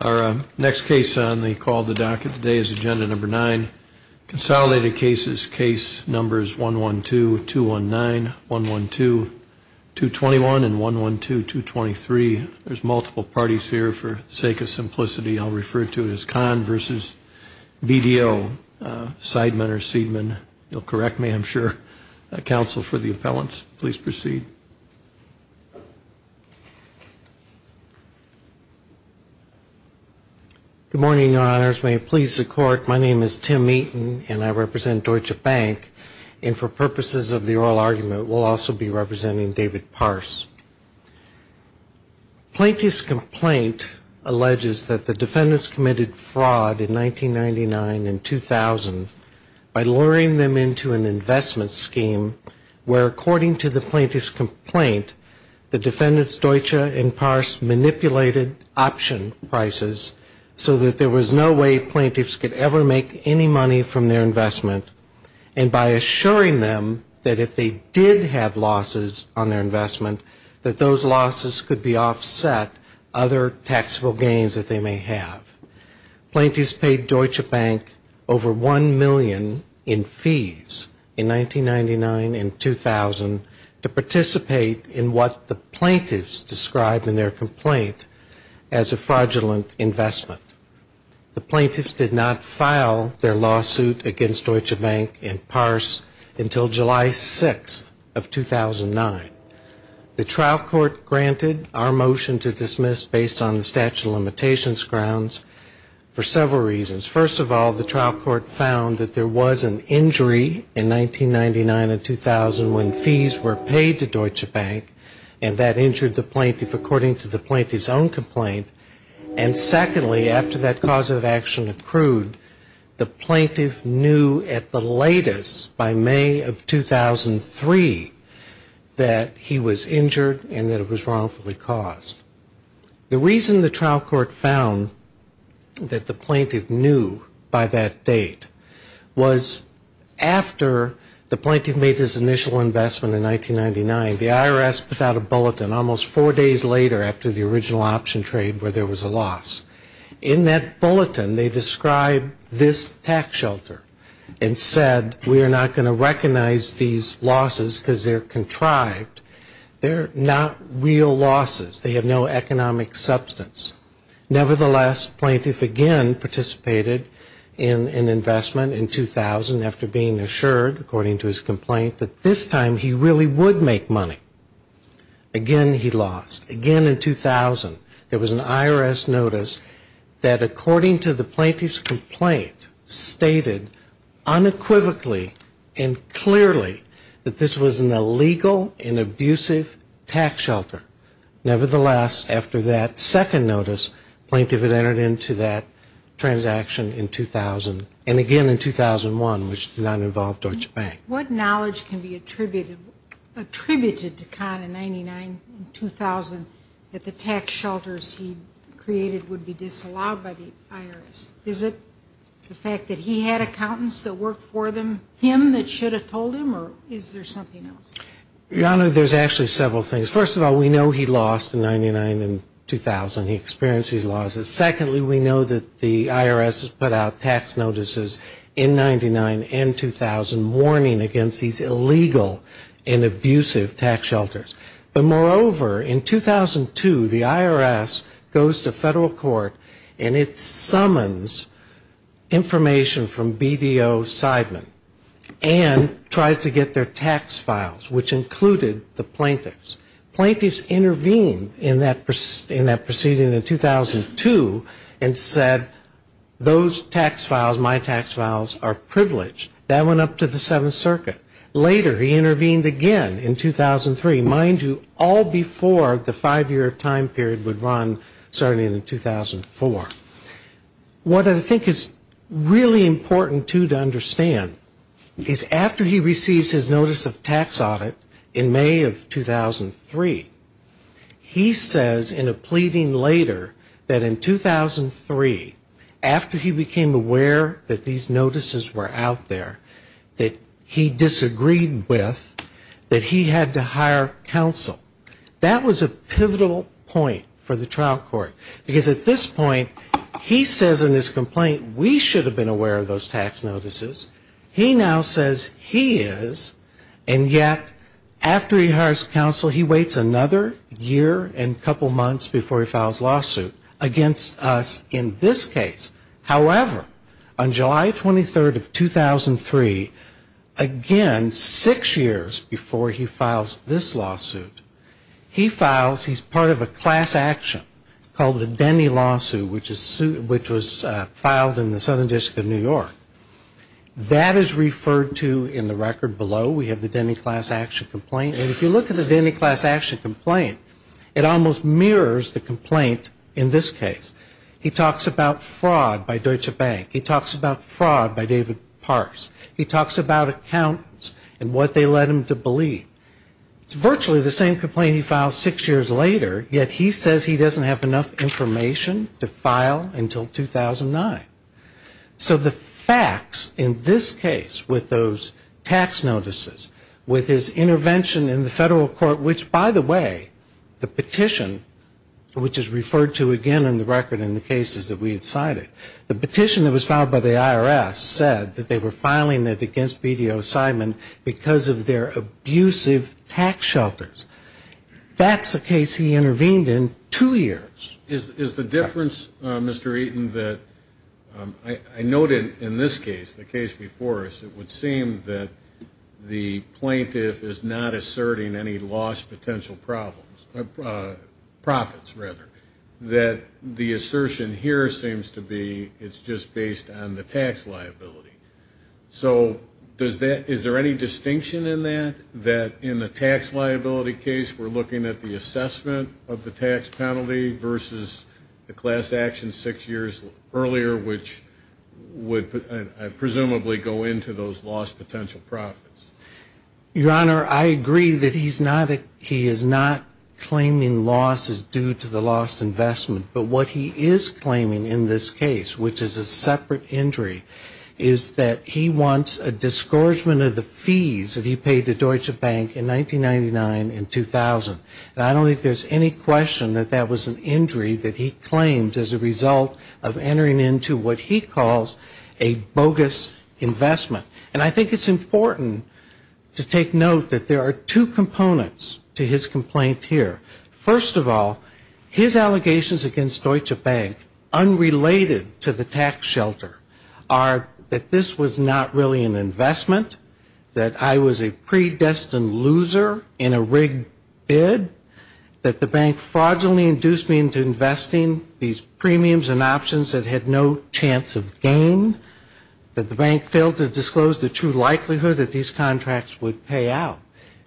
Our next case on the call the docket today is agenda number nine Consolidated cases case numbers 1 1 2 2 1 9 1 1 2 221 and 1 1 2 2 23. There's multiple parties here for sake of simplicity. I'll refer to it as con versus BDO Seidman or Seidman you'll correct me. I'm sure a council for the appellants. Please proceed Good Morning your honors may it please the court My name is Tim meetin and I represent Deutsche Bank and for purposes of the oral argument will also be representing David parse Plaintiff's complaint Alleges that the defendants committed fraud in 1999 and 2000 by luring them into an investment scheme Where according to the plaintiff's complaint the defendants Deutsche and parse manipulated option prices so that there was no way plaintiffs could ever make any money from their investment and By assuring them that if they did have losses on their investment that those losses could be offset other taxable gains that they may have Plaintiffs paid Deutsche Bank over 1 million in fees in 1999 and 2000 to participate in what the plaintiffs described in their complaint as a fraudulent investment The plaintiffs did not file their lawsuit against Deutsche Bank and parse until July 6 of 2009 The trial court granted our motion to dismiss based on the statute of limitations grounds For several reasons first of all the trial court found that there was an injury in 1999 and 2000 when fees were paid to Deutsche Bank and that injured the plaintiff according to the plaintiff's own complaint and secondly after that cause of action accrued the plaintiff knew at the latest by May of 2003 That he was injured and that it was wrongfully caused The reason the trial court found That the plaintiff knew by that date was after the plaintiff made his initial investment in 1999 the IRS put out a bulletin almost four days later after the original option trade where there was a loss In that bulletin they described this tax shelter and said we are not going to recognize these Losses because they're contrived They're not real losses. They have no economic substance nevertheless plaintiff again participated in an investment in 2000 after being assured according to his complaint that this time he really would make money Again, he lost again in 2000. There was an IRS notice that according to the plaintiff's complaint stated unequivocally and Clearly that this was an illegal and abusive tax shelter Nevertheless after that second notice plaintiff had entered into that Transaction in 2000 and again in 2001 which did not involve Deutsche Bank. What knowledge can be attributed? attributed to Khan in 99 2000 that the tax shelters he created would be disallowed by the IRS Is it the fact that he had accountants that work for them him that should have told him or is there something else? Your honor, there's actually several things. First of all, we know he lost in 99 and 2000 he experienced these losses secondly We know that the IRS has put out tax notices in 99 and 2000 warning against these illegal and abusive tax shelters, but moreover in 2002 the IRS goes to federal court and it summons information from BDO Seidman and Tries to get their tax files which included the plaintiffs Plaintiffs intervened in that person in that proceeding in 2002 and said Those tax files my tax files are privileged that went up to the Seventh Circuit later He intervened again in 2003 mind you all before the five-year time period would run starting in 2004 What I think is really important to to understand is after he receives his notice of tax audit in May of 2003 He says in a pleading later that in 2003 after he became aware that these notices were out there that he disagreed That he had to hire counsel That was a pivotal point for the trial court because at this point he says in this complaint We should have been aware of those tax notices. He now says he is and yet After he hires counsel he waits another year and couple months before he files lawsuit against us in this case, however on July 23rd of 2003 Again six years before he files this lawsuit He files he's part of a class-action called the Denny lawsuit, which is suit which was filed in the Southern District of New York That is referred to in the record below We have the Denny class-action complaint and if you look at the Denny class-action complaint it almost mirrors the complaint in this case He talks about fraud by Deutsche Bank. He talks about fraud by David Parks He talks about accountants and what they led him to believe It's virtually the same complaint. He filed six years later yet. He says he doesn't have enough information to file until 2009 so the facts in this case with those tax notices with his Intervention in the federal court which by the way the petition Which is referred to again in the record in the cases that we had cited The petition that was filed by the IRS said that they were filing it against BDO Simon because of their abusive tax shelters That's the case. He intervened in two years is the difference. Mr. Eaton that I noted in this case the case before us it would seem that The plaintiff is not asserting any lost potential problems Profits rather that the assertion here seems to be it's just based on the tax liability So does that is there any distinction in that that in the tax liability case? we're looking at the assessment of the tax penalty versus the class-action six years earlier, which Would I presumably go into those lost potential profits? Your honor I agree that he's not that he is not Claiming losses due to the lost investment, but what he is claiming in this case, which is a separate injury Is that he wants a discouragement of the fees that he paid the Deutsche Bank in 1999 in 2000? And I don't think there's any question that that was an injury that he claimed as a result of entering into what he calls a bogus Investment and I think it's important To take note that there are two components to his complaint here. First of all his allegations against Deutsche Bank unrelated to the tax shelter are That this was not really an investment that I was a predestined loser in a rigged bid That the bank fraudulently induced me into investing these premiums and options that had no chance of gain That the bank failed to disclose the true likelihood that these contracts would pay out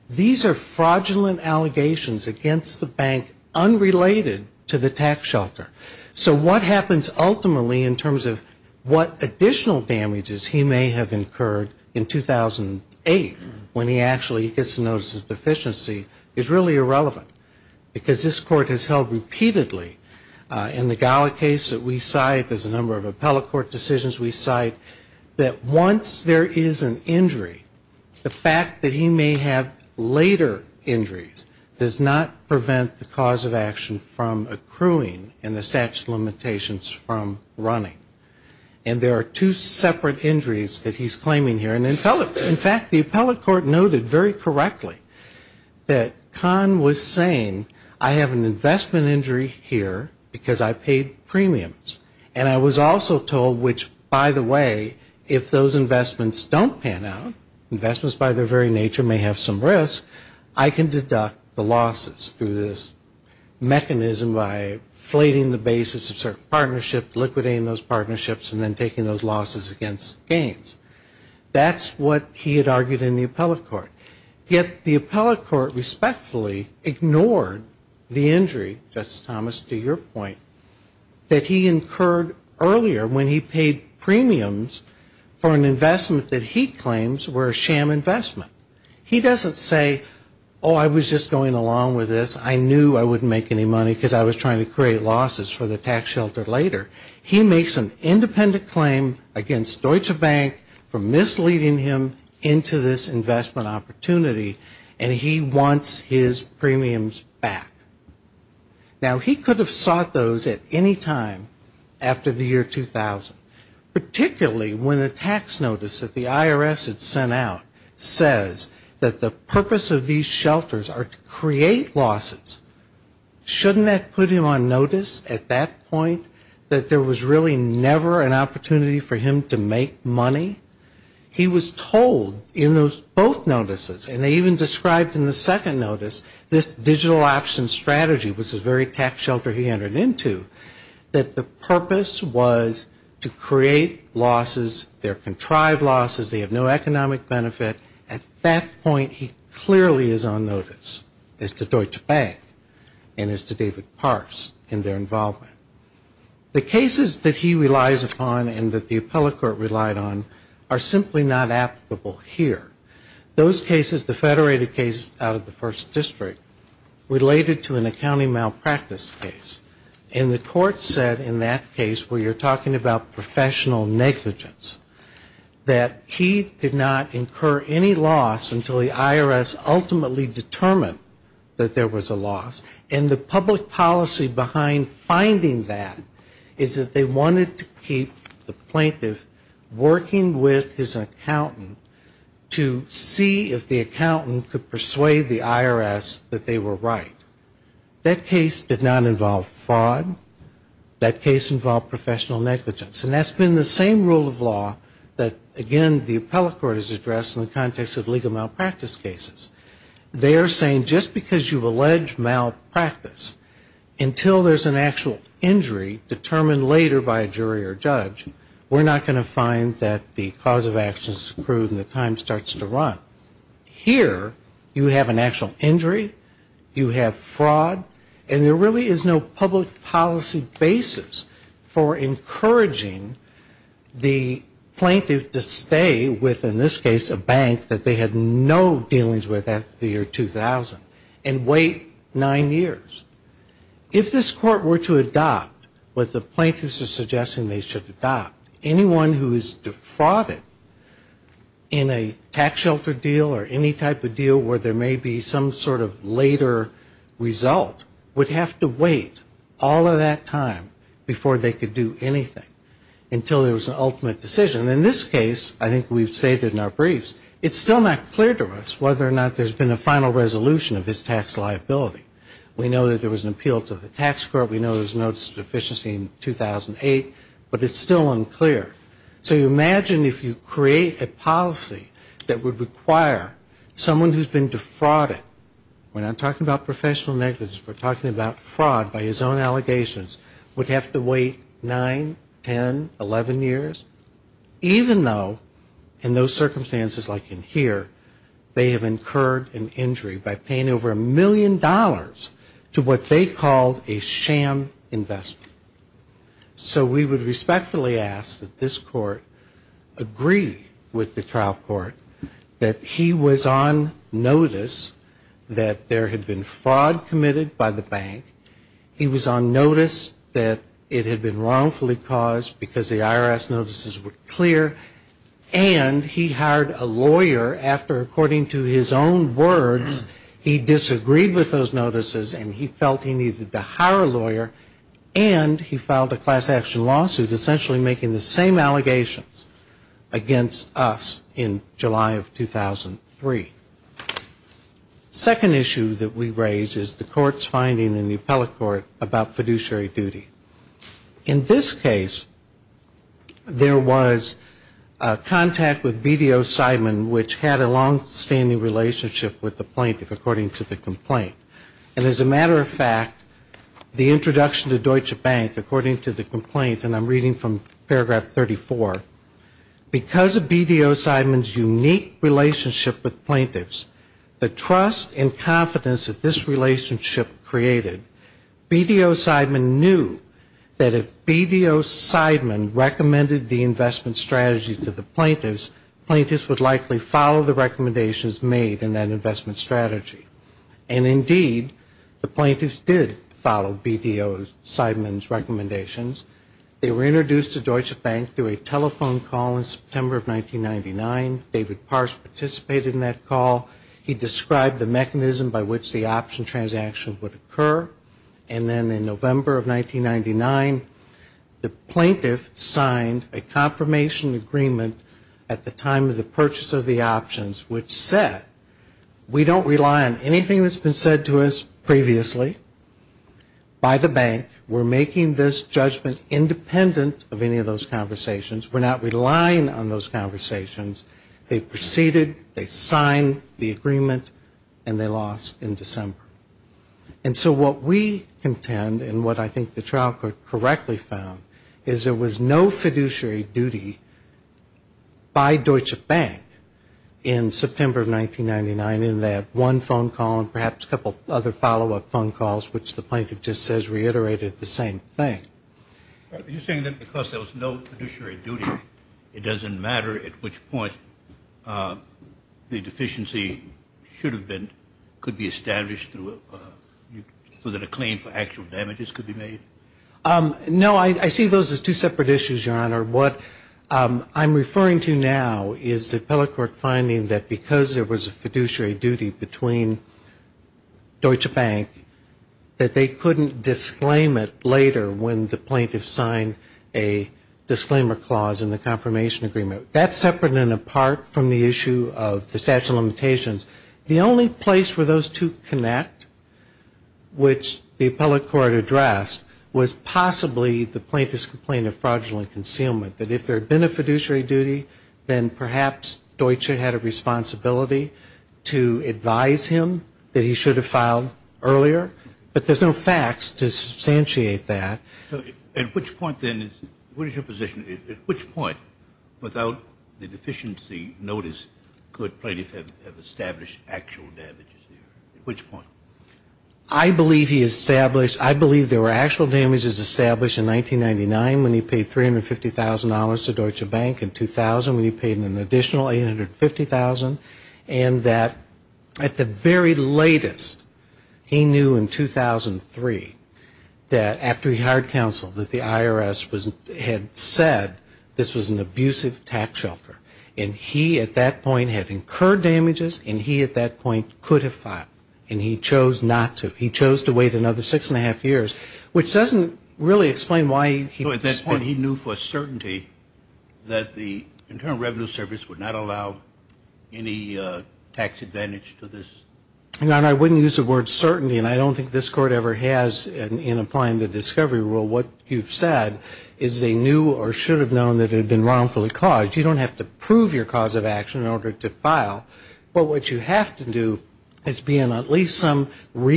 These are fraudulent allegations against the bank Unrelated to the tax shelter. So what happens ultimately in terms of what additional damages he may have incurred in 2008 when he actually gets to notice his deficiency is really irrelevant because this court has held repeatedly In the gala case that we cite there's a number of appellate court decisions We cite that once there is an injury the fact that he may have later injuries does not prevent the cause of action from accruing and the statute of limitations from running and There are two separate injuries that he's claiming here and in fact the appellate court noted very correctly That Khan was saying I have an investment injury here because I paid Premiums and I was also told which by the way if those investments don't pan out Investments by their very nature may have some risk. I can deduct the losses through this Mechanism by flating the basis of certain partnership liquidating those partnerships and then taking those losses against gains That's what he had argued in the appellate court yet the appellate court Respectfully ignored the injury Justice Thomas to your point That he incurred earlier when he paid premiums For an investment that he claims were a sham investment. He doesn't say oh, I was just going along with this I knew I wouldn't make any money because I was trying to create losses for the tax shelter later He makes an independent claim against Deutsche Bank for misleading him into this investment Opportunity and he wants his premiums back Now he could have sought those at any time after the year 2000 Particularly when a tax notice that the IRS had sent out says that the purpose of these shelters are to create losses Shouldn't that put him on notice at that point that there was really never an opportunity for him to make money He was told in those both notices and they even described in the second notice this digital option Strategy was a very tax shelter He entered into that the purpose was to create losses their contrived losses They have no economic benefit at that point. He clearly is on notice as to Deutsche Bank And as to David Parse in their involvement The cases that he relies upon and that the appellate court relied on are simply not applicable here Those cases the federated cases out of the first district Related to an accounting malpractice case and the court said in that case where you're talking about professional negligence That he did not incur any loss until the IRS ultimately determined that there was a loss And the public policy behind finding that is that they wanted to keep the plaintiff Working with his accountant to see if the accountant could persuade the IRS that they were right That case did not involve fraud That case involved professional negligence and that's been the same rule of law That again the appellate court is addressed in the context of legal malpractice cases They are saying just because you've alleged malpractice Until there's an actual injury Determined later by a jury or judge. We're not going to find that the cause of actions approved and the time starts to run Here you have an actual injury you have fraud and there really is no public policy basis for encouraging The Plaintiff to stay with in this case a bank that they had no dealings with at the year 2000 and wait nine years If this court were to adopt what the plaintiffs are suggesting they should adopt anyone who is defrauded In a tax shelter deal or any type of deal where there may be some sort of later Result would have to wait all of that time before they could do anything Until there was an ultimate decision in this case. I think we've stated in our briefs It's still not clear to us whether or not there's been a final resolution of his tax liability We know that there was an appeal to the tax court. We know there's notice of deficiency in 2008 but it's still unclear. So you imagine if you create a policy that would require Someone who's been defrauded When I'm talking about professional negligence, we're talking about fraud by his own allegations would have to wait nine ten eleven years Even though in those circumstances like in here They have incurred an injury by paying over a million dollars to what they called a sham investment So we would respectfully ask that this court Agree with the trial court that he was on notice That there had been fraud committed by the bank he was on notice that it had been wrongfully caused because the IRS notices were clear and He hired a lawyer after according to his own words he disagreed with those notices and he felt he needed to hire a lawyer and He filed a class-action lawsuit essentially making the same allegations against us in July of 2003 Second issue that we raise is the court's finding in the appellate court about fiduciary duty in this case there was Contact with BDO Seidman which had a long-standing relationship with the plaintiff according to the complaint and as a matter of fact The introduction to Deutsche Bank according to the complaint and I'm reading from paragraph 34 Because of BDO Seidman's unique relationship with plaintiffs the trust and confidence that this relationship created BDO Seidman knew that if BDO Seidman recommended the investment strategy to the plaintiffs plaintiffs would likely follow the recommendations made in that investment strategy and Indeed the plaintiffs did follow BDO Seidman's recommendations They were introduced to Deutsche Bank through a telephone call in September of 1999 David Parse participated in that call He described the mechanism by which the option transaction would occur and then in November of 1999 the plaintiff signed a Confirmation agreement at the time of the purchase of the options which said We don't rely on anything that's been said to us previously By the bank we're making this judgment independent of any of those conversations We're not relying on those conversations. They proceeded they signed the agreement and they lost in December and So what we contend and what I think the trial court correctly found is there was no fiduciary duty by Deutsche Bank in Which the plaintiff just says reiterated the same thing It doesn't matter at which point The deficiency should have been could be established through Was it a claim for actual damages could be made? No, I see those as two separate issues your honor what? I'm referring to now is the appellate court finding that because there was a fiduciary duty between Deutsche Bank that they couldn't disclaim it later when the plaintiff signed a Disclaimer clause in the confirmation agreement that's separate and apart from the issue of the statute of limitations The only place were those to connect Which the appellate court addressed was possibly the plaintiff's complaint of fraudulent concealment that if there had been a fiduciary duty Then perhaps Deutsche had a responsibility to advise him That he should have filed earlier, but there's no facts to substantiate that At which point then is what is your position at which point without the deficiency notice? Could plaintiff have established actual damage at which point I? Believe he established. I believe there were actual damages established in 1999 when he paid $350,000 to Deutsche Bank in 2000 when he paid an additional 850,000 and that at the very latest He knew in 2003 that after he hired counsel that the IRS was had said this was an abusive tax shelter and He at that point had incurred Damages and he at that point could have filed and he chose not to he chose to wait another six and a half years Which doesn't really explain why he at this point he knew for certainty That the Internal Revenue Service would not allow any Tax advantage to this and I wouldn't use the word certainty And I don't think this court ever has in applying the discovery rule what you've said is They knew or should have known that it had been wrongfully caused you don't have to prove your cause of action in order to file But what you have to do is be in at least some And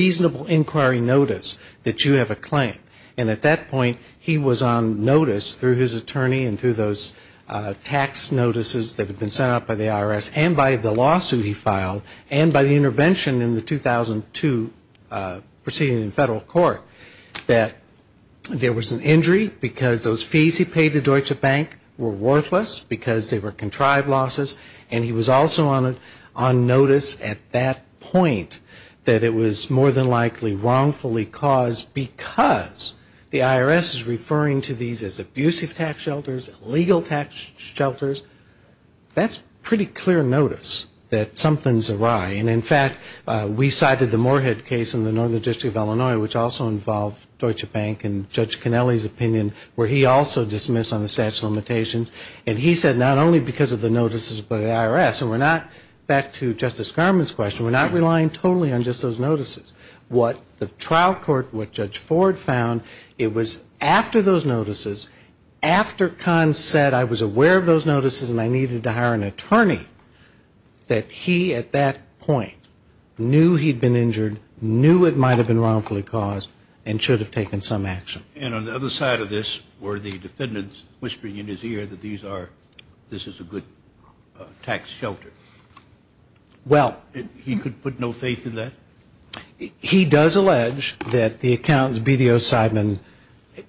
at that point he was on notice through his attorney and through those Tax notices that had been sent out by the IRS and by the lawsuit he filed and by the intervention in the 2002 proceeding in federal court that There was an injury because those fees he paid to Deutsche Bank were worthless because they were contrived losses And he was also on it on notice at that point that it was more than likely Wrongfully caused because the IRS is referring to these as abusive tax shelters legal tax shelters That's pretty clear notice that something's awry and in fact We cited the Moorhead case in the northern district of Illinois which also involved Deutsche Bank and judge Kennelly's opinion Where he also dismissed on the statute limitations And he said not only because of the notices by the IRS and we're not back to justice garments question We're not relying totally on just those notices what the trial court what judge Ford found it was after those notices After con said I was aware of those notices, and I needed to hire an attorney That he at that point Knew he'd been injured Knew it might have been wrongfully caused and should have taken some action and on the other side of this were the defendants Whispering in his ear that these are this is a good tax shelter Well he could put no faith in that He does allege that the accountants BDO Seidman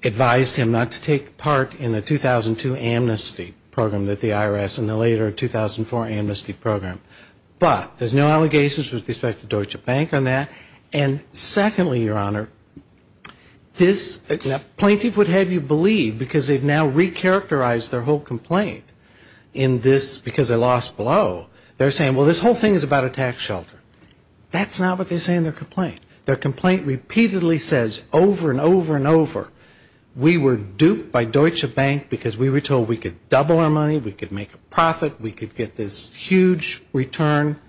Advised him not to take part in a 2002 amnesty program that the IRS and the later 2004 amnesty program, but there's no allegations with respect to Deutsche Bank on that and secondly your honor This plaintiff would have you believe because they've now recharacterized their whole complaint in this because I lost below They're saying well this whole thing is about a tax shelter That's not what they say in their complaint their complaint repeatedly says over and over and over We were duped by Deutsche Bank because we were told we could double our money. We could make a profit We could get this huge return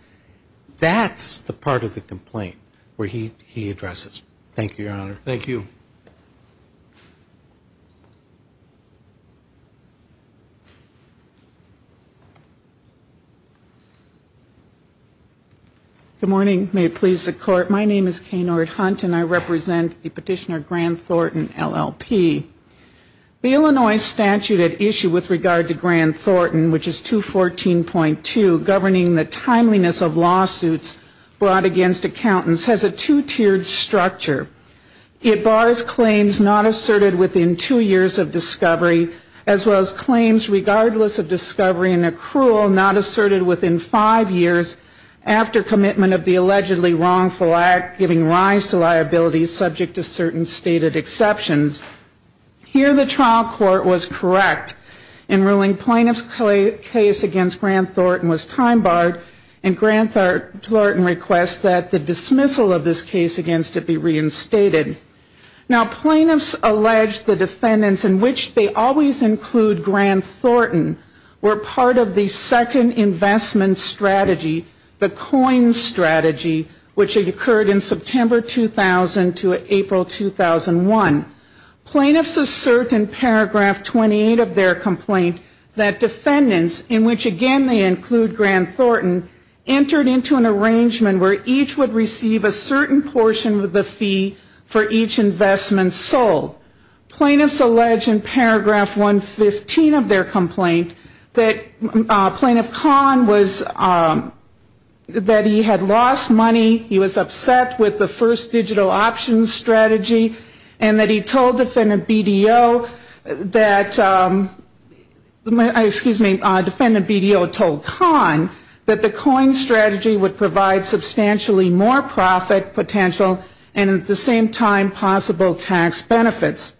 That's the part of the complaint where he he addresses. Thank you your honor. Thank you Good morning, may it please the court. My name is Kay Nord hunt, and I represent the petitioner Grant Thornton LLP The Illinois statute at issue with regard to Grant Thornton, which is two fourteen point two governing the timeliness of lawsuits Brought against accountants has a two-tiered structure It bars claims not asserted within two years of discovery as well as claims Regardless of discovery and accrual not asserted within five years After commitment of the allegedly wrongful act giving rise to liabilities subject to certain stated exceptions Here the trial court was correct in ruling plaintiff's clay case against Grant Thornton was time barred and Grant Thornton requests that the dismissal of this case against it be reinstated Now plaintiffs alleged the defendants in which they always include Grant Thornton Were part of the second investment strategy the coin strategy which had occurred in September 2000 to April 2001 Plaintiffs assert in paragraph 28 of their complaint that defendants in which again they include Grant Thornton Entered into an arrangement where each would receive a certain portion of the fee for each investment sold plaintiffs alleged in paragraph 115 of their complaint that plaintiff con was That he had lost money. He was upset with the first digital options strategy and that he told defendant BDO that My excuse me defendant BDO told con that the coin strategy would provide Substantially more profit potential and at the same time possible tax benefits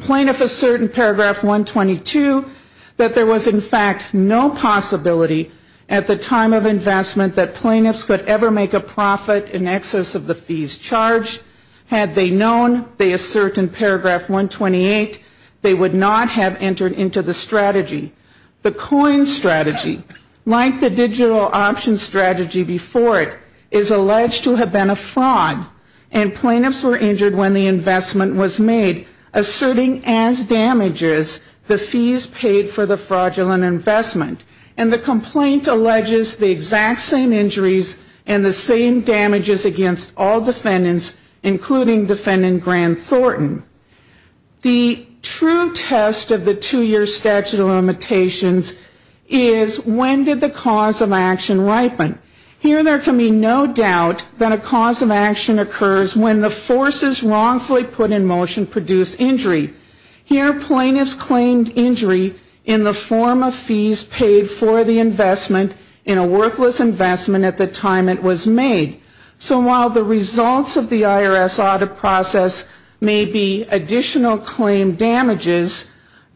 plaintiff a certain paragraph 122 that there was in fact no Possibility at the time of investment that plaintiffs could ever make a profit in excess of the fees charged Had they known they assert in paragraph 128 They would not have entered into the strategy the coin strategy like the digital options strategy before it is alleged to have been a fraud and Plaintiffs were injured when the investment was made Asserting as damages the fees paid for the fraudulent investment and the complaint Alleges the exact same injuries and the same damages against all defendants including defendant Grant Thornton The true test of the two-year statute of limitations is When did the cause of action ripen here? There can be no doubt that a cause of action occurs when the force is wrongfully put in motion produced injury Here plaintiffs claimed injury in the form of fees paid for the investment in a worthless Investment at the time it was made So while the results of the IRS audit process may be additional claim damages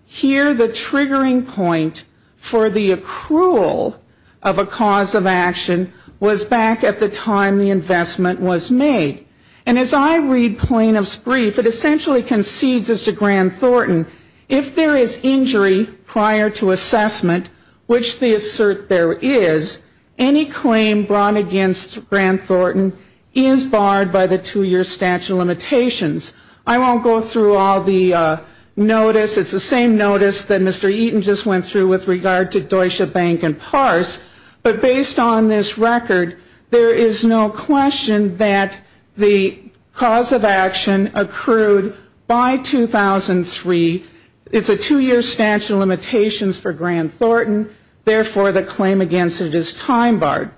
Here the triggering point for the accrual of a cause of action Was back at the time the investment was made and as I read plaintiffs brief It essentially concedes as to Grant Thornton if there is injury prior to assessment Which the assert there is any claim brought against Grant Thornton is barred by the two-year statute of limitations I won't go through all the Notice, it's the same notice that mr. Eaton just went through with regard to Deutsche Bank and parse But based on this record, there is no question that the cause of action accrued by 2003 it's a two-year statute of limitations for Grant Thornton. Therefore the claim against it is time barred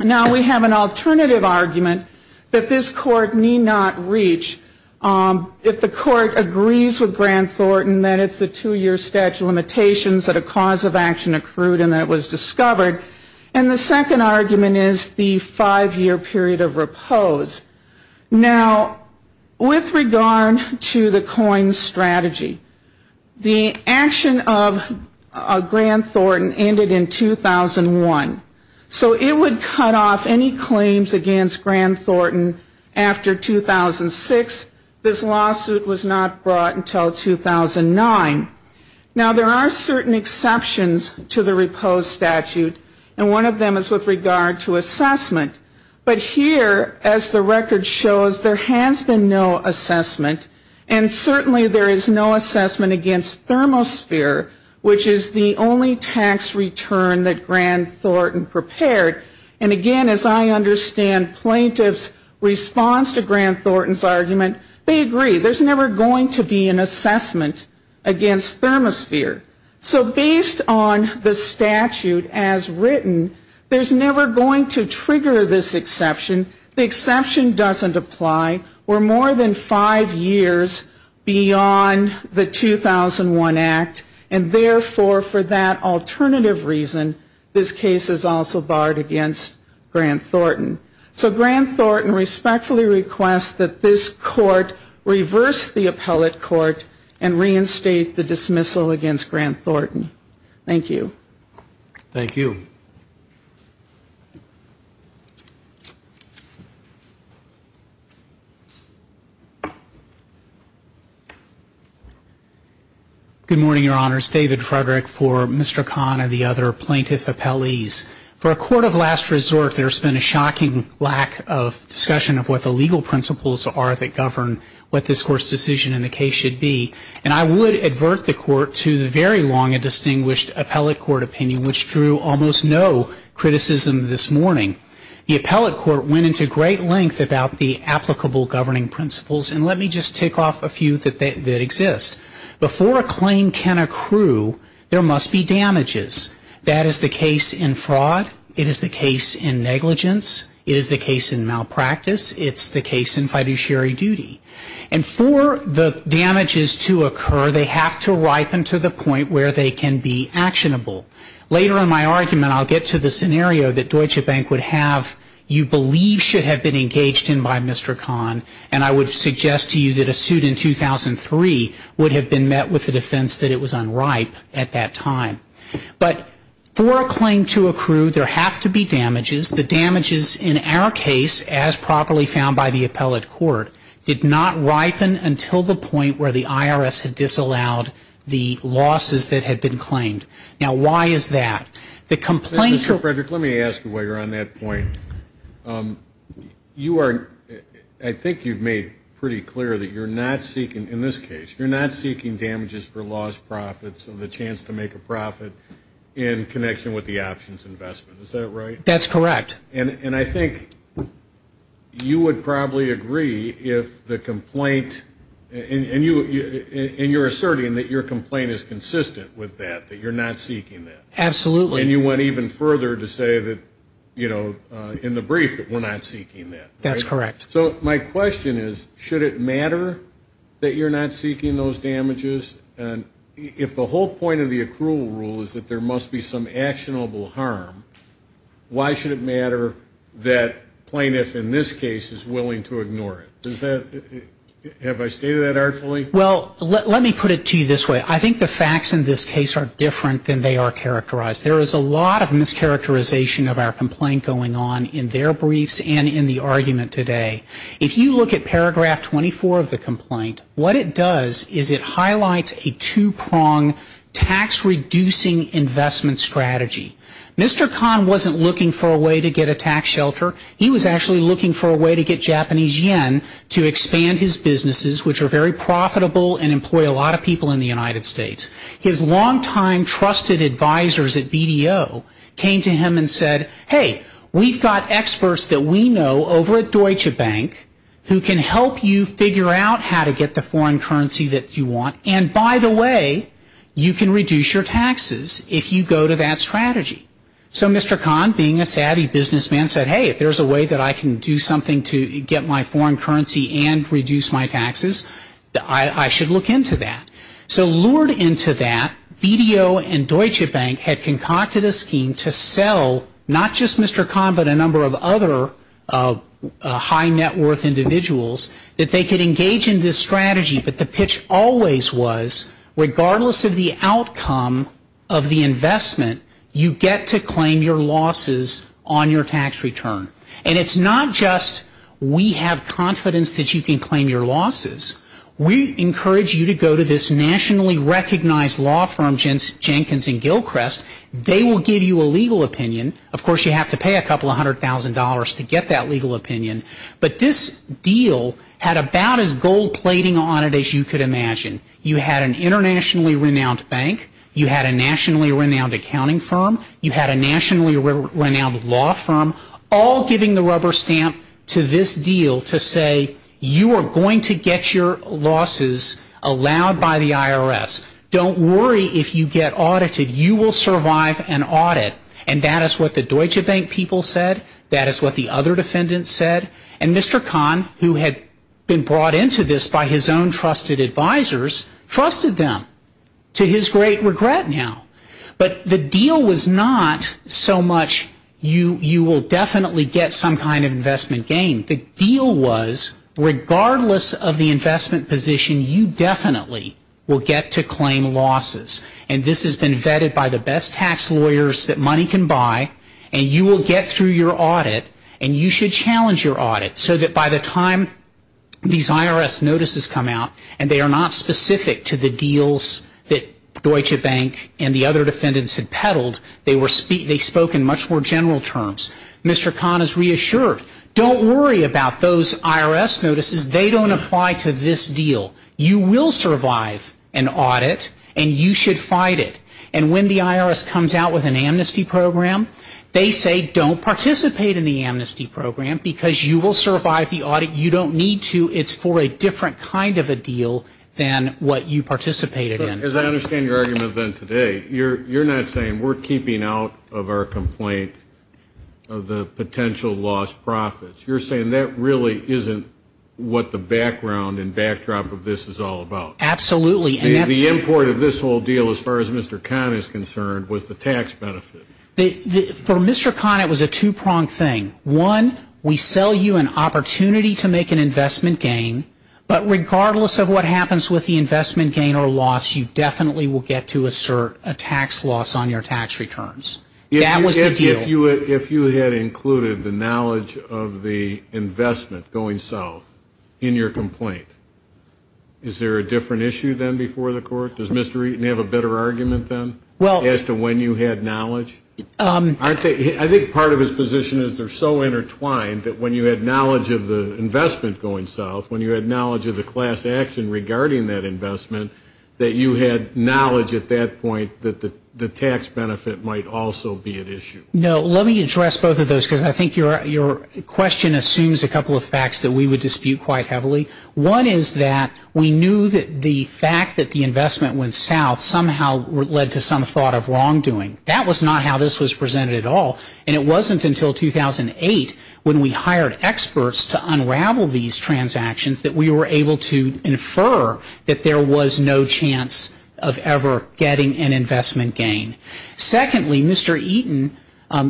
Now we have an alternative argument that this court need not reach if the court agrees with Grant Thornton that it's the two-year statute of limitations that a cause of action accrued and that was Discovered and the second argument is the five-year period of repose now With regard to the coin strategy the action of a Grant Thornton ended in 2001 so it would cut off any claims against Grant Thornton after 2006 this lawsuit was not brought until 2009 now there are certain exceptions to the repose statute and one of them is with regard to There has been no assessment and certainly there is no assessment against Thermosphere which is the only tax return that Grant Thornton prepared and again as I understand Plaintiffs responds to Grant Thornton's argument. They agree. There's never going to be an assessment against thermosphere So based on the statute as written There's never going to trigger this exception the exception doesn't apply we're more than five years beyond the 2001 act and therefore for that alternative reason this case is also barred against Grant Thornton so Grant Thornton respectfully requests that this court Reverse the appellate court and reinstate the dismissal against Grant Thornton. Thank you Thank you Good morning, your honors David Frederick for mr. Khan and the other plaintiff appellees for a court of last resort There's been a shocking lack of discussion of what the legal principles are that govern what this court's decision in the case should be And I would advert the court to the very long a distinguished appellate court opinion which drew almost no Criticism this morning the appellate court went into great length about the applicable governing principles And let me just tick off a few that that exist before a claim can accrue There must be damages that is the case in fraud. It is the case in negligence. It is the case in malpractice It's the case in fiduciary duty and for the damages to occur They have to ripen to the point where they can be actionable later in my argument I'll get to the scenario that Deutsche Bank would have you believe should have been engaged in by mr Khan and I would suggest to you that a suit in 2003 would have been met with the defense that it was unripe at that time But for a claim to accrue there have to be damages the damages in our case as properly found by the appellate court did not ripen until the point where the IRS had disallowed the Losses that had been claimed now. Why is that the complaints of Frederick? Let me ask you while you're on that point You are I think you've made pretty clear that you're not seeking in this case You're not seeking damages for lost profits of the chance to make a profit in Connection with the options investment. Is that right? That's correct. And and I think You would probably agree if the complaint And you and you're asserting that your complaint is consistent with that that you're not seeking that Absolutely, and you went even further to say that you know in the brief that we're not seeking that that's correct So my question is should it matter that you're not seeking those damages and If the whole point of the accrual rule is that there must be some actionable harm Why should it matter that plaintiff in this case is willing to ignore it? Does that? Have I stated that artfully? Well, let me put it to you this way I think the facts in this case are different than they are characterized There is a lot of mischaracterization of our complaint going on in their briefs and in the argument today If you look at paragraph 24 of the complaint, what it does is it highlights a two-prong tax? Reducing investment strategy. Mr. Khan wasn't looking for a way to get a tax shelter He was actually looking for a way to get Japanese yen to expand his businesses Which are very profitable and employ a lot of people in the United States his longtime Trusted advisors at BDO came to him and said hey We've got experts that we know over at Deutsche Bank Who can help you figure out how to get the foreign currency that you want? And by the way, you can reduce your taxes if you go to that strategy So mr. Khan being a savvy businessman said hey if there's a way that I can do something to get my foreign currency and reduce My taxes that I I should look into that So lured into that BDO and Deutsche Bank had concocted a scheme to sell not just mr. Khan, but a number of other High net worth individuals that they could engage in this strategy, but the pitch always was Regardless of the outcome of the investment you get to claim your losses on your tax return And it's not just we have confidence that you can claim your losses We encourage you to go to this nationally recognized law firm Jensen Jenkins and Gilchrist They will give you a legal opinion of course you have to pay a couple of hundred thousand dollars to get that legal opinion But this deal had about as gold-plating on it as you could imagine you had an internationally renowned bank You had a nationally renowned accounting firm you had a nationally renowned law firm all giving the rubber stamp To this deal to say you are going to get your losses Allowed by the IRS don't worry if you get audited you will survive an audit And that is what the Deutsche Bank people said that is what the other defendants said and mr. Khan who had been brought into this by his own trusted advisors trusted them to his great regret now But the deal was not so much you you will definitely get some kind of investment gain the deal was Regardless of the investment position you definitely will get to claim losses And this has been vetted by the best tax lawyers that money can buy and you will get through your audit And you should challenge your audit so that by the time These IRS notices come out And they are not specific to the deals that Deutsche Bank and the other defendants had peddled they were speak They spoke in much more general terms mr. Khan is reassured don't worry about those IRS notices They don't apply to this deal you will survive an audit And you should fight it and when the IRS comes out with an amnesty program They say don't participate in the amnesty program because you will survive the audit you don't need to it's for a different kind of a Deal than what you participated in as I understand your argument then today you're you're not saying we're keeping out of our complaint Of the potential lost profits you're saying that really isn't What the background and backdrop of this is all about absolutely and that's the import of this whole deal as far as mr. Khan is concerned was the tax benefit the for mr. Khan it was a two-pronged thing one we sell you an opportunity to make an investment gain But regardless of what happens with the investment gain or loss you definitely will get to assert a tax loss on your tax returns That was if you if you had included the knowledge of the investment going south in your complaint Is there a different issue than before the court does mr. Eaton have a better argument then well as to when you had knowledge Aren't they I think part of his position is they're so intertwined that when you had knowledge of the Investment going south when you had knowledge of the class action regarding that investment That you had knowledge at that point that the the tax benefit might also be an issue No Let me address both of those because I think you're your Question assumes a couple of facts that we would dispute quite heavily One is that we knew that the fact that the investment went south somehow Led to some thought of wrongdoing that was not how this was presented at all and it wasn't until 2008 when we hired experts to unravel these Transactions that we were able to infer that there was no chance of ever getting an investment gain Secondly mr. Eaton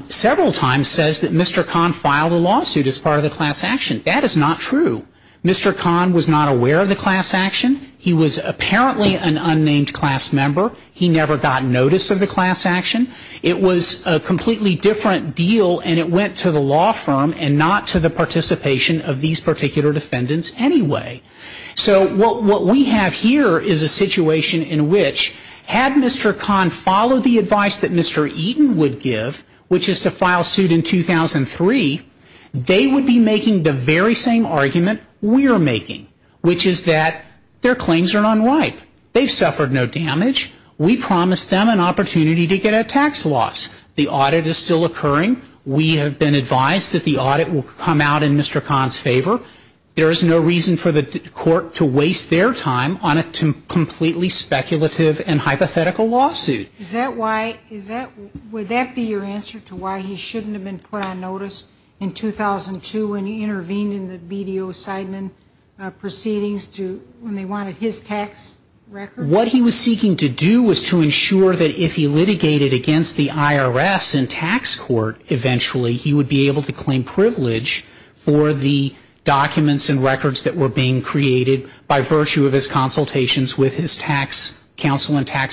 Several times says that mr. Khan filed a lawsuit as part of the class action. That is not true Mr. Khan was not aware of the class action. He was apparently an unnamed class member He never got notice of the class action It was a completely different deal and it went to the law firm and not to the participation of these particular defendants Anyway, so what what we have here is a situation in which had mr Khan followed the advice that mr. Eaton would give which is to file suit in 2003 they would be making the very same argument we are making which is that their claims are not right They've suffered no damage. We promised them an opportunity to get a tax loss. The audit is still occurring We have been advised that the audit will come out in. Mr. Khan's favor There is no reason for the court to waste their time on it to completely speculative and hypothetical laws Is that why is that would that be your answer to why he shouldn't have been put on notice in? 2002 and he intervened in the BDO Sideman Proceedings to when they wanted his tax What he was seeking to do was to ensure that if he litigated against the IRS and tax court Eventually, he would be able to claim privilege for the documents and records that were being created by virtue of his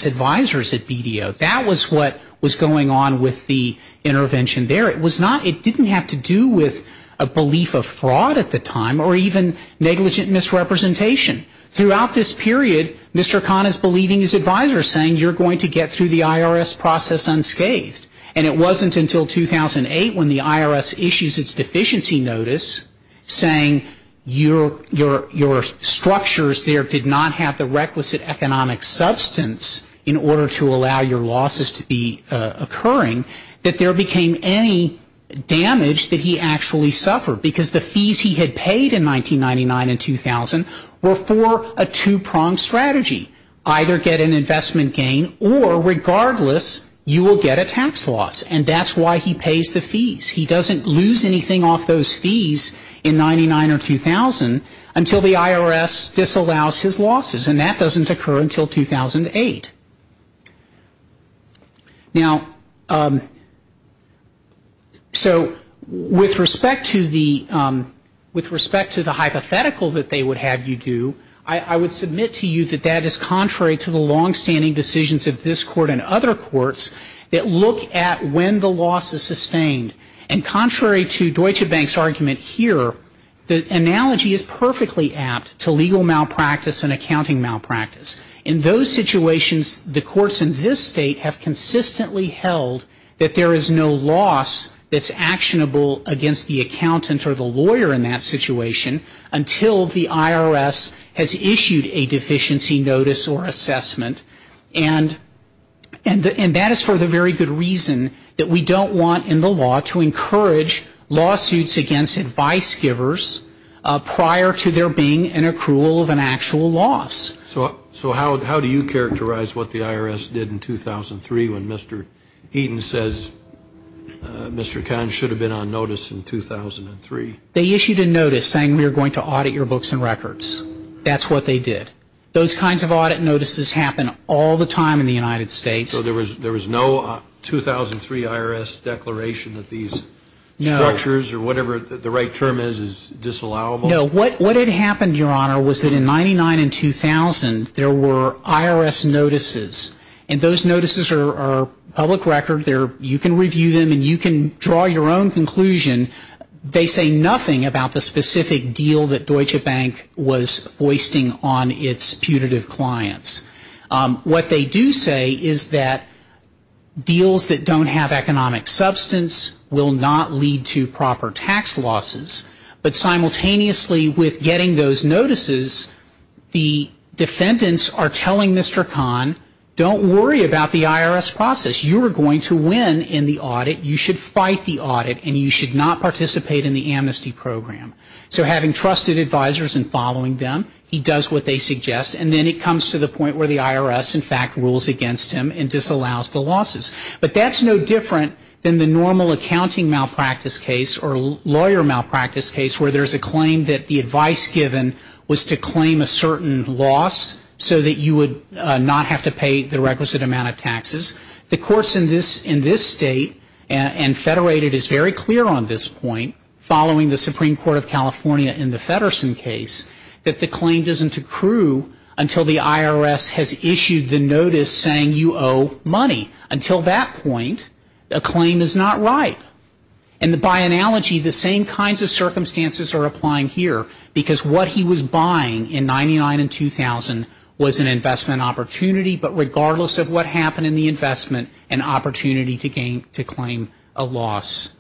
Advisors at BDO that was what was going on with the intervention there It was not it didn't have to do with a belief of fraud at the time or even negligent misrepresentation Throughout this period. Mr. Khan is believing his advisor saying you're going to get through the IRS process unscathed and it wasn't until 2008 when the IRS issues its deficiency notice Saying you're your your structures there did not have the requisite economic substance in order to allow your losses to be Occurring that there became any Damage that he actually suffered because the fees he had paid in 1999 and 2000 were for a two-pronged strategy Either get an investment gain or regardless you will get a tax loss and that's why he pays the fees He doesn't lose anything off those fees in 99 or 2000 until the IRS disallows his losses and that doesn't occur until 2008 Now So with respect to the With respect to the hypothetical that they would have you do I? Would submit to you that that is contrary to the long-standing decisions of this court and other courts That look at when the loss is sustained and contrary to Deutsche Bank's argument here The analogy is perfectly apt to legal malpractice and accounting malpractice in those Situations the courts in this state have consistently held that there is no loss That's actionable against the accountant or the lawyer in that situation until the IRS has issued a deficiency notice or assessment and And and that is for the very good reason that we don't want in the law to encourage Lawsuits against advice givers Prior to there being an accrual of an actual loss. So so how do you characterize what the IRS did in 2003 when? Mr. Eaton says Mr. Khan should have been on notice in 2003 they issued a notice saying we are going to audit your books and records That's what they did those kinds of audit notices happen all the time in the United States. So there was there was no 2003 IRS declaration that these Structures or whatever the right term is is disallowable know what what had happened your honor was that in 99 and 2000 there were IRS notices and those notices are Public record there you can review them and you can draw your own conclusion They say nothing about the specific deal that Deutsche Bank was hoisting on its putative clients What they do say is that? Deals that don't have economic substance will not lead to proper tax losses But simultaneously with getting those notices The defendants are telling mr. Khan don't worry about the IRS process you are going to win in the audit You should fight the audit and you should not participate in the amnesty program So having trusted advisors and following them he does what they suggest and then it comes to the point where the IRS in fact rules Against him and disallows the losses But that's no different than the normal accounting malpractice case or lawyer Malpractice case where there's a claim that the advice given was to claim a certain loss so that you would not have to pay the requisite amount of taxes the courts in this in this state and Federated is very clear on this point following the Supreme Court of California in the Federsen case that the claim doesn't accrue Until the IRS has issued the notice saying you owe money until that point a claim is not right and the by analogy the same kinds of circumstances are applying here because what he was buying in 99 and 2000 was an investment opportunity, but regardless of what happened in the investment an opportunity to gain to claim a loss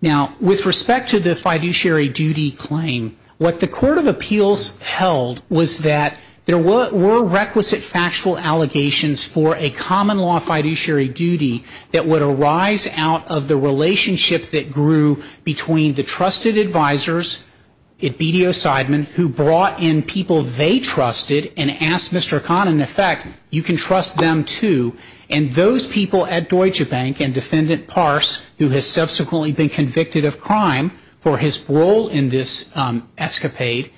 Now with respect to the fiduciary duty claim what the Court of Appeals held was that there were requisite factual allegations for a common law fiduciary duty that would arise out of the relationship that grew between the trusted advisors it BDO Seidman who brought in people they Untrusted and asked mr. Khan in effect you can trust them to and those people at Deutsche Bank and defendant parse who has subsequently been convicted of crime for his role in this escapade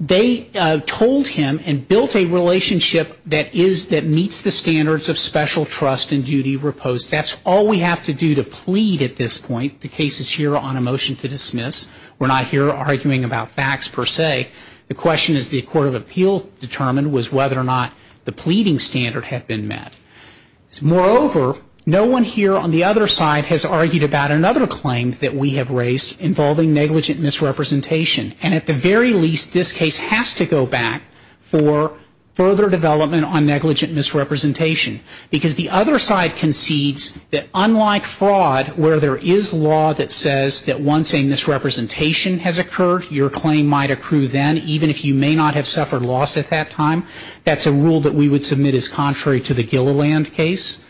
they Told him and built a relationship that is that meets the standards of special trust and duty repose That's all we have to do to plead at this point. The case is here on a motion to dismiss We're not here arguing about facts per se The question is the Court of Appeal determined was whether or not the pleading standard had been met Moreover, no one here on the other side has argued about another claim that we have raised involving negligent misrepresentation and at the very least this case has to go back for further development on negligent misrepresentation because the other side concedes that unlike fraud where there is law that says that one saying Negligent misrepresentation has occurred your claim might accrue then even if you may not have suffered loss at that time That's a rule that we would submit as contrary to the Gilliland case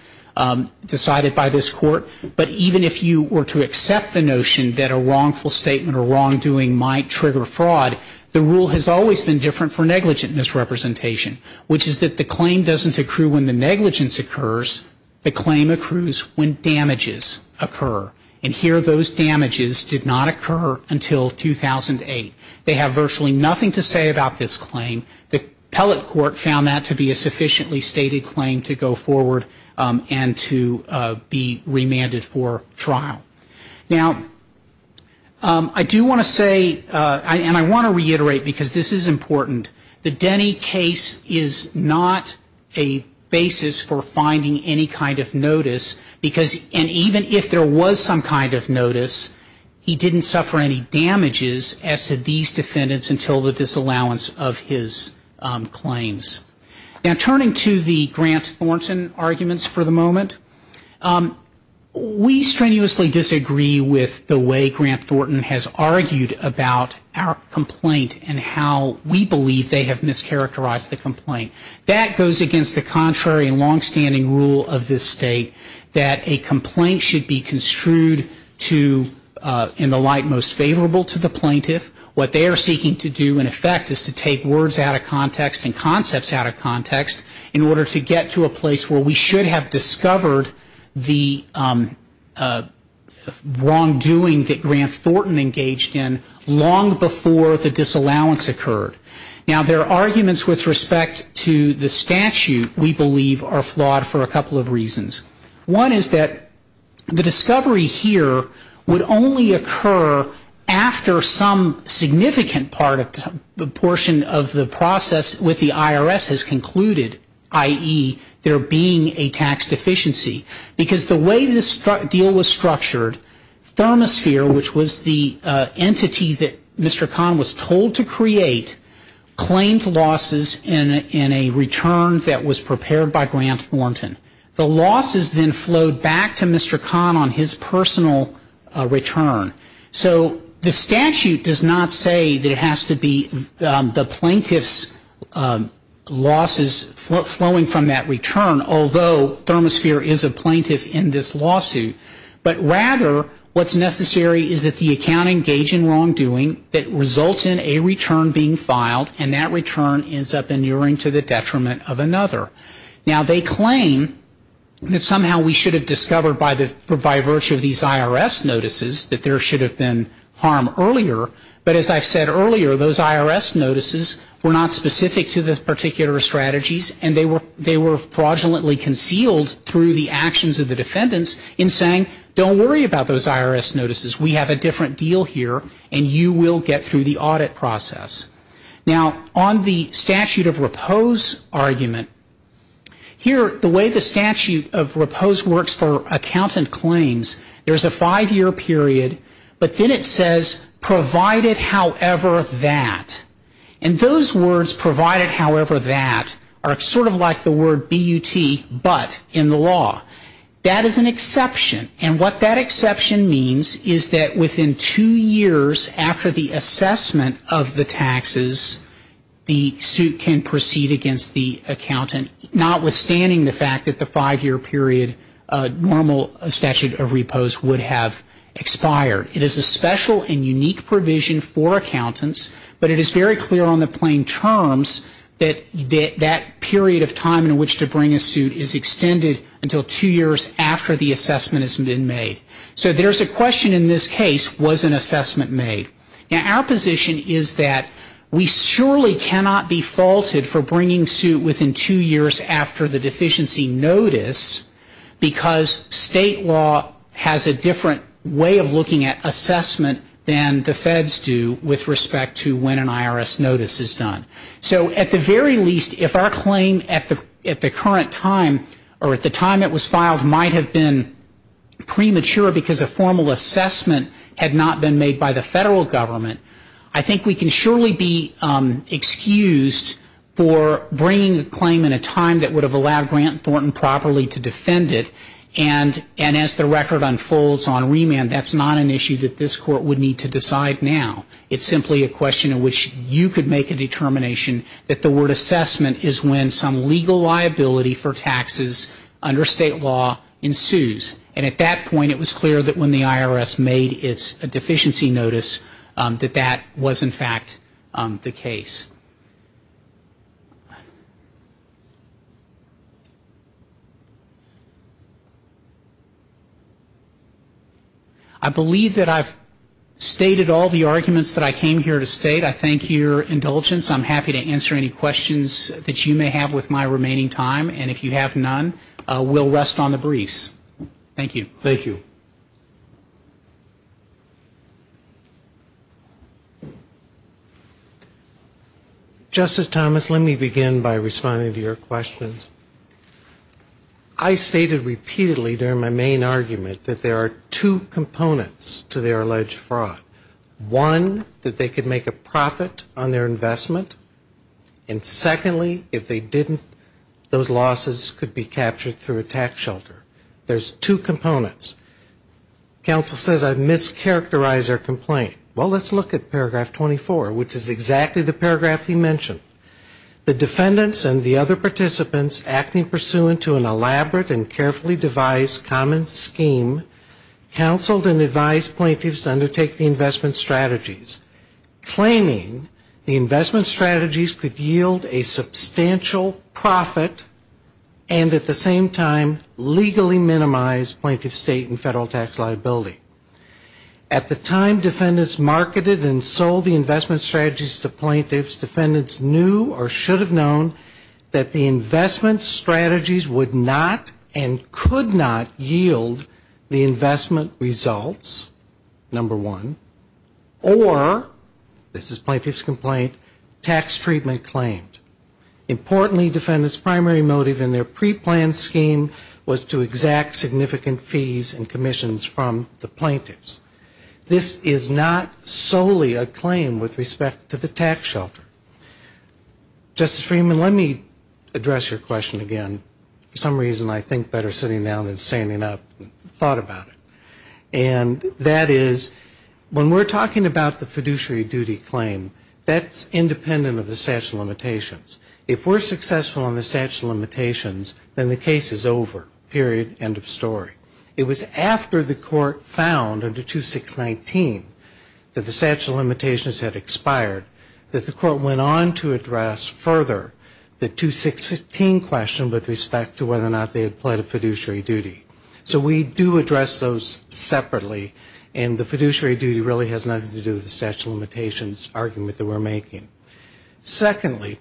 Decided by this court But even if you were to accept the notion that a wrongful statement or wrongdoing might trigger fraud The rule has always been different for negligent misrepresentation Which is that the claim doesn't accrue when the negligence occurs the claim accrues when? Damages occur and here those damages did not occur until 2008 they have virtually nothing to say about this claim the pellet court found that to be a sufficiently stated claim to go forward and to be remanded for trial now I do want to say and I want to reiterate because this is important the Denny case is not a Notice because and even if there was some kind of notice He didn't suffer any damages as to these defendants until the disallowance of his Claims now turning to the grant Thornton arguments for the moment We strenuously disagree with the way grant Thornton has argued about our Complaint and how we believe they have mischaracterized the complaint that goes against the contrary Long-standing rule of this state that a complaint should be construed to In the light most favorable to the plaintiff what they are seeking to do in effect is to take words out of context and concepts out of context in order to get to a place where we should have discovered the Wrongdoing that grant Thornton engaged in long before the disallowance occurred now there are arguments with respect to The statute we believe are flawed for a couple of reasons one. Is that the discovery here would only occur? after some Significant part of the portion of the process with the IRS has concluded i.e There being a tax deficiency because the way this deal was structured Thermosphere which was the entity that mr. Kahn was told to create Claimed losses in in a return that was prepared by grant Thornton the losses then flowed back to mr. Kahn on his personal Return so the statute does not say that it has to be the plaintiff's Losses flowing from that return although Thermosphere is a plaintiff in this lawsuit But rather what's necessary is that the accounting gauge in wrongdoing that results in a return being filed and that return Ends up in urine to the detriment of another now they claim That somehow we should have discovered by the by virtue of these IRS notices that there should have been harm earlier But as I've said earlier those IRS notices were not specific to the particular strategies And they were they were fraudulently concealed through the actions of the defendants in saying don't worry about those IRS notices We have a different deal here, and you will get through the audit process Now on the statute of repose argument Here the way the statute of repose works for accountant claims. There's a five-year period but then it says provided however that and Those words provided however that are sort of like the word BUT but in the law That is an exception and what that exception means is that within two years after the assessment of the taxes? The suit can proceed against the accountant notwithstanding the fact that the five-year period Normal statute of repose would have expired it is a special and unique provision for accountants But it is very clear on the plain terms That that period of time in which to bring a suit is extended until two years after the assessment has been made So there's a question in this case was an assessment made now our position Is that we surely cannot be faulted for bringing suit within two years after the deficiency notice? Because state law has a different way of looking at Assessment than the feds do with respect to when an IRS notice is done So at the very least if our claim at the at the current time or at the time it was filed might have been Premature because a formal assessment had not been made by the federal government. I think we can surely be Defend it and and as the record unfolds on remand, that's not an issue that this court would need to decide now It's simply a question in which you could make a determination that the word assessment is when some legal liability for taxes Under state law ensues and at that point it was clear that when the IRS made it's a deficiency notice That that was in fact the case I Believe that I've Stated all the arguments that I came here to state. I thank your indulgence I'm happy to answer any questions that you may have with my remaining time. And if you have none, we'll rest on the briefs Thank you. Thank you Justice Thomas, let me begin by responding to your questions. I stated repeatedly during my main argument that there are two components to their alleged fraud one that they could make a profit on their investment and Secondly, if they didn't those losses could be captured through a tax shelter. There's two components Council says I've mischaracterized our complaint. Well, let's look at paragraph 24, which is exactly the paragraph he mentioned The defendants and the other participants acting pursuant to an elaborate and carefully devised common scheme Counseled and advised plaintiffs to undertake the investment strategies claiming the investment strategies could yield a substantial profit and at the same time legally minimized point of state and federal tax liability At the time defendants marketed and sold the investment strategies to plaintiffs defendants knew or should have known That the investment strategies would not and could not yield the investment results number one or This is plaintiffs complaint tax treatment claimed Importantly defendants primary motive in their pre-planned scheme was to exact significant fees and commissions from the plaintiffs This is not solely a claim with respect to the tax shelter Justice Freeman, let me address your question again for some reason. I think better sitting down than standing up thought about it and that is When we're talking about the fiduciary duty claim, that's independent of the statute of limitation If we're successful on the statute of limitations, then the case is over period end of story It was after the court found under to 619 That the statute of limitations had expired that the court went on to address further The to 615 question with respect to whether or not they had pled a fiduciary duty So we do address those separately and the fiduciary duty really has nothing to do with the statute of limitations argument that we're making Secondly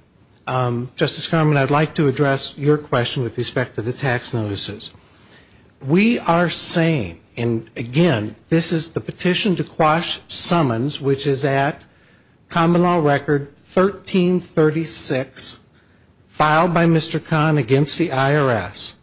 Justice Herman, I'd like to address your question with respect to the tax notices We are saying and again, this is the petition to quash summons, which is at common law record 1336 filed by mr. Khan against the IRS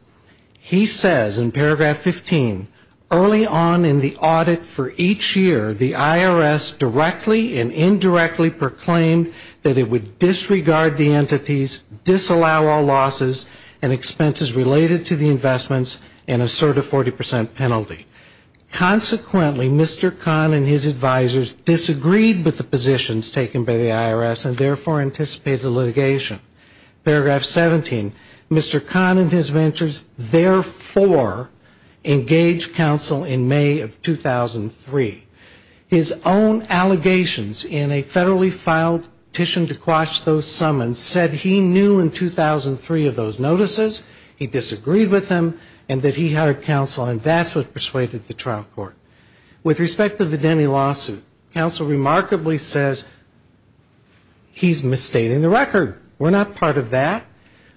He says in paragraph 15 early on in the audit for each year the IRS Directly and indirectly proclaimed that it would disregard the entities Disallow all losses and expenses related to the investments in a sort of 40% penalty Consequently, mr. Khan and his advisers disagreed with the positions taken by the IRS and therefore anticipated litigation paragraph 17 mr. Khan and his ventures therefore engaged counsel in May of 2003 his own allegations in a federally filed petition to quash those summons said he knew in 2003 of those notices he disagreed with him and that he hired counsel and that's what persuaded the trial court with respect to the Denny lawsuit counsel remarkably says He's misstating the record. We're not part of that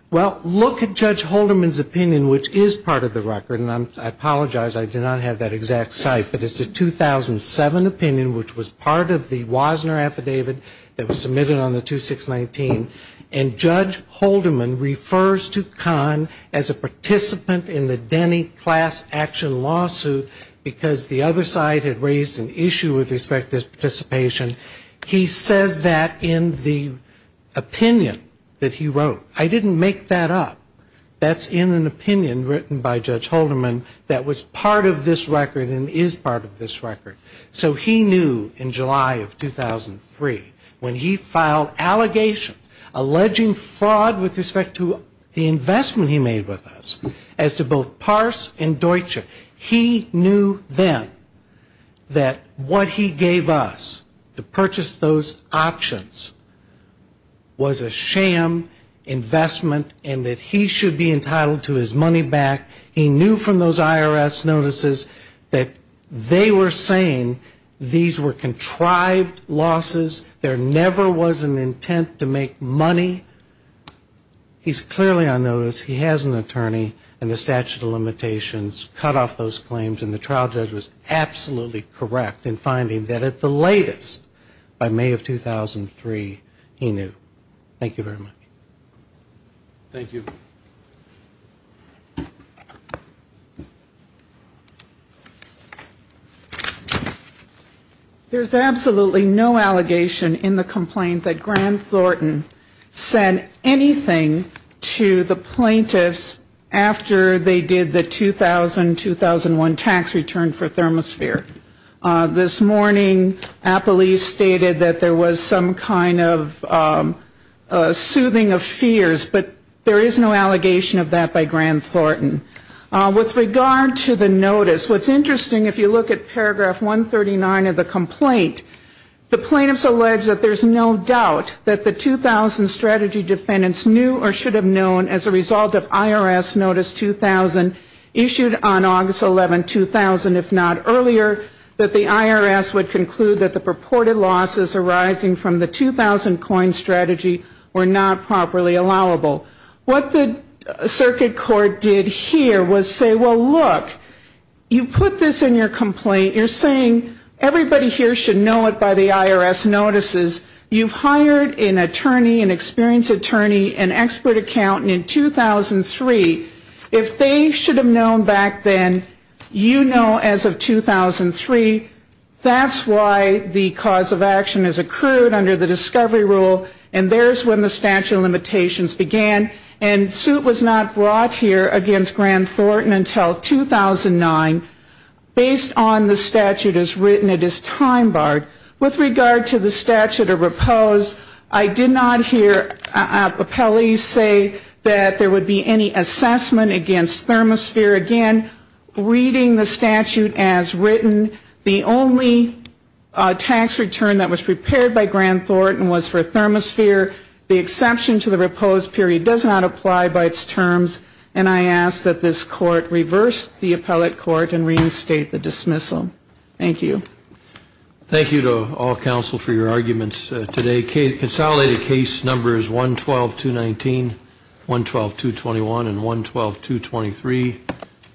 Well, look at judge Holderman's opinion, which is part of the record and I'm I apologize I did not have that exact site, but it's a 2007 opinion which was part of the Wasner affidavit that was submitted on the 2619 and Judge Holderman refers to con as a participant in the Denny class-action Lawsuit because the other side had raised an issue with respect this participation. He says that in the Opinion that he wrote I didn't make that up That's in an opinion written by judge Holderman that was part of this record and is part of this record so he knew in July of 2003 when he filed allegations Alleging fraud with respect to the investment he made with us as to both parse and Deutsche. He knew then That what he gave us to purchase those options Was a sham Investment and that he should be entitled to his money back. He knew from those IRS notices that They were saying these were contrived losses. There never was an intent to make money He's clearly on notice. He has an attorney and the statute of limitations cut off those claims and the trial judge was Absolutely, correct in finding that at the latest by May of 2003 he knew thank you very much Thank you There's absolutely no allegation in the complaint that Grant Thornton Sent anything to the plaintiffs after they did the 2000-2001 tax return for thermosphere this morning a police stated that there was some kind of Soothing of fears, but there is no allegation of that by Grant Thornton With regard to the notice what's interesting if you look at paragraph 139 of the complaint The plaintiffs allege that there's no doubt that the 2000 strategy defendants knew or should have known as a result of IRS notice 2000 issued on August 11 2000 if not earlier that the IRS would conclude that the purported losses arising from the 2000 coin strategy were not properly allowable What the circuit court did here was say well look You put this in your complaint. You're saying everybody here should know it by the IRS notices You've hired an attorney an experienced attorney an expert accountant in 2003 if they should have known back then you know as of 2003 That's why the cause of action is accrued under the discovery rule And there's when the statute of limitations began and suit was not brought here against Grant Thornton until 2009 Based on the statute as written it is time-barred with regard to the statute of repose. I did not hear Appellees say that there would be any assessment against thermosphere again Reading the statute as written the only tax return that was prepared by Grant Thornton was for a thermosphere the Exception to the repose period does not apply by its terms And I ask that this court reverse the appellate court and reinstate the dismissal. Thank you Thank you to all counsel for your arguments today case consolidated case numbers 1 12 to 19 1 12 to 21 and 1 12 to 23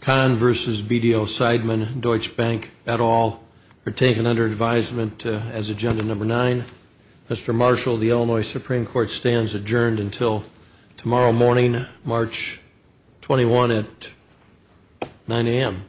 Con versus BDO Seidman Deutsche Bank at all are taken under advisement as agenda number 9 Mr. Marshall the Illinois Supreme Court stands adjourned until tomorrow morning March 21 at 9 a.m.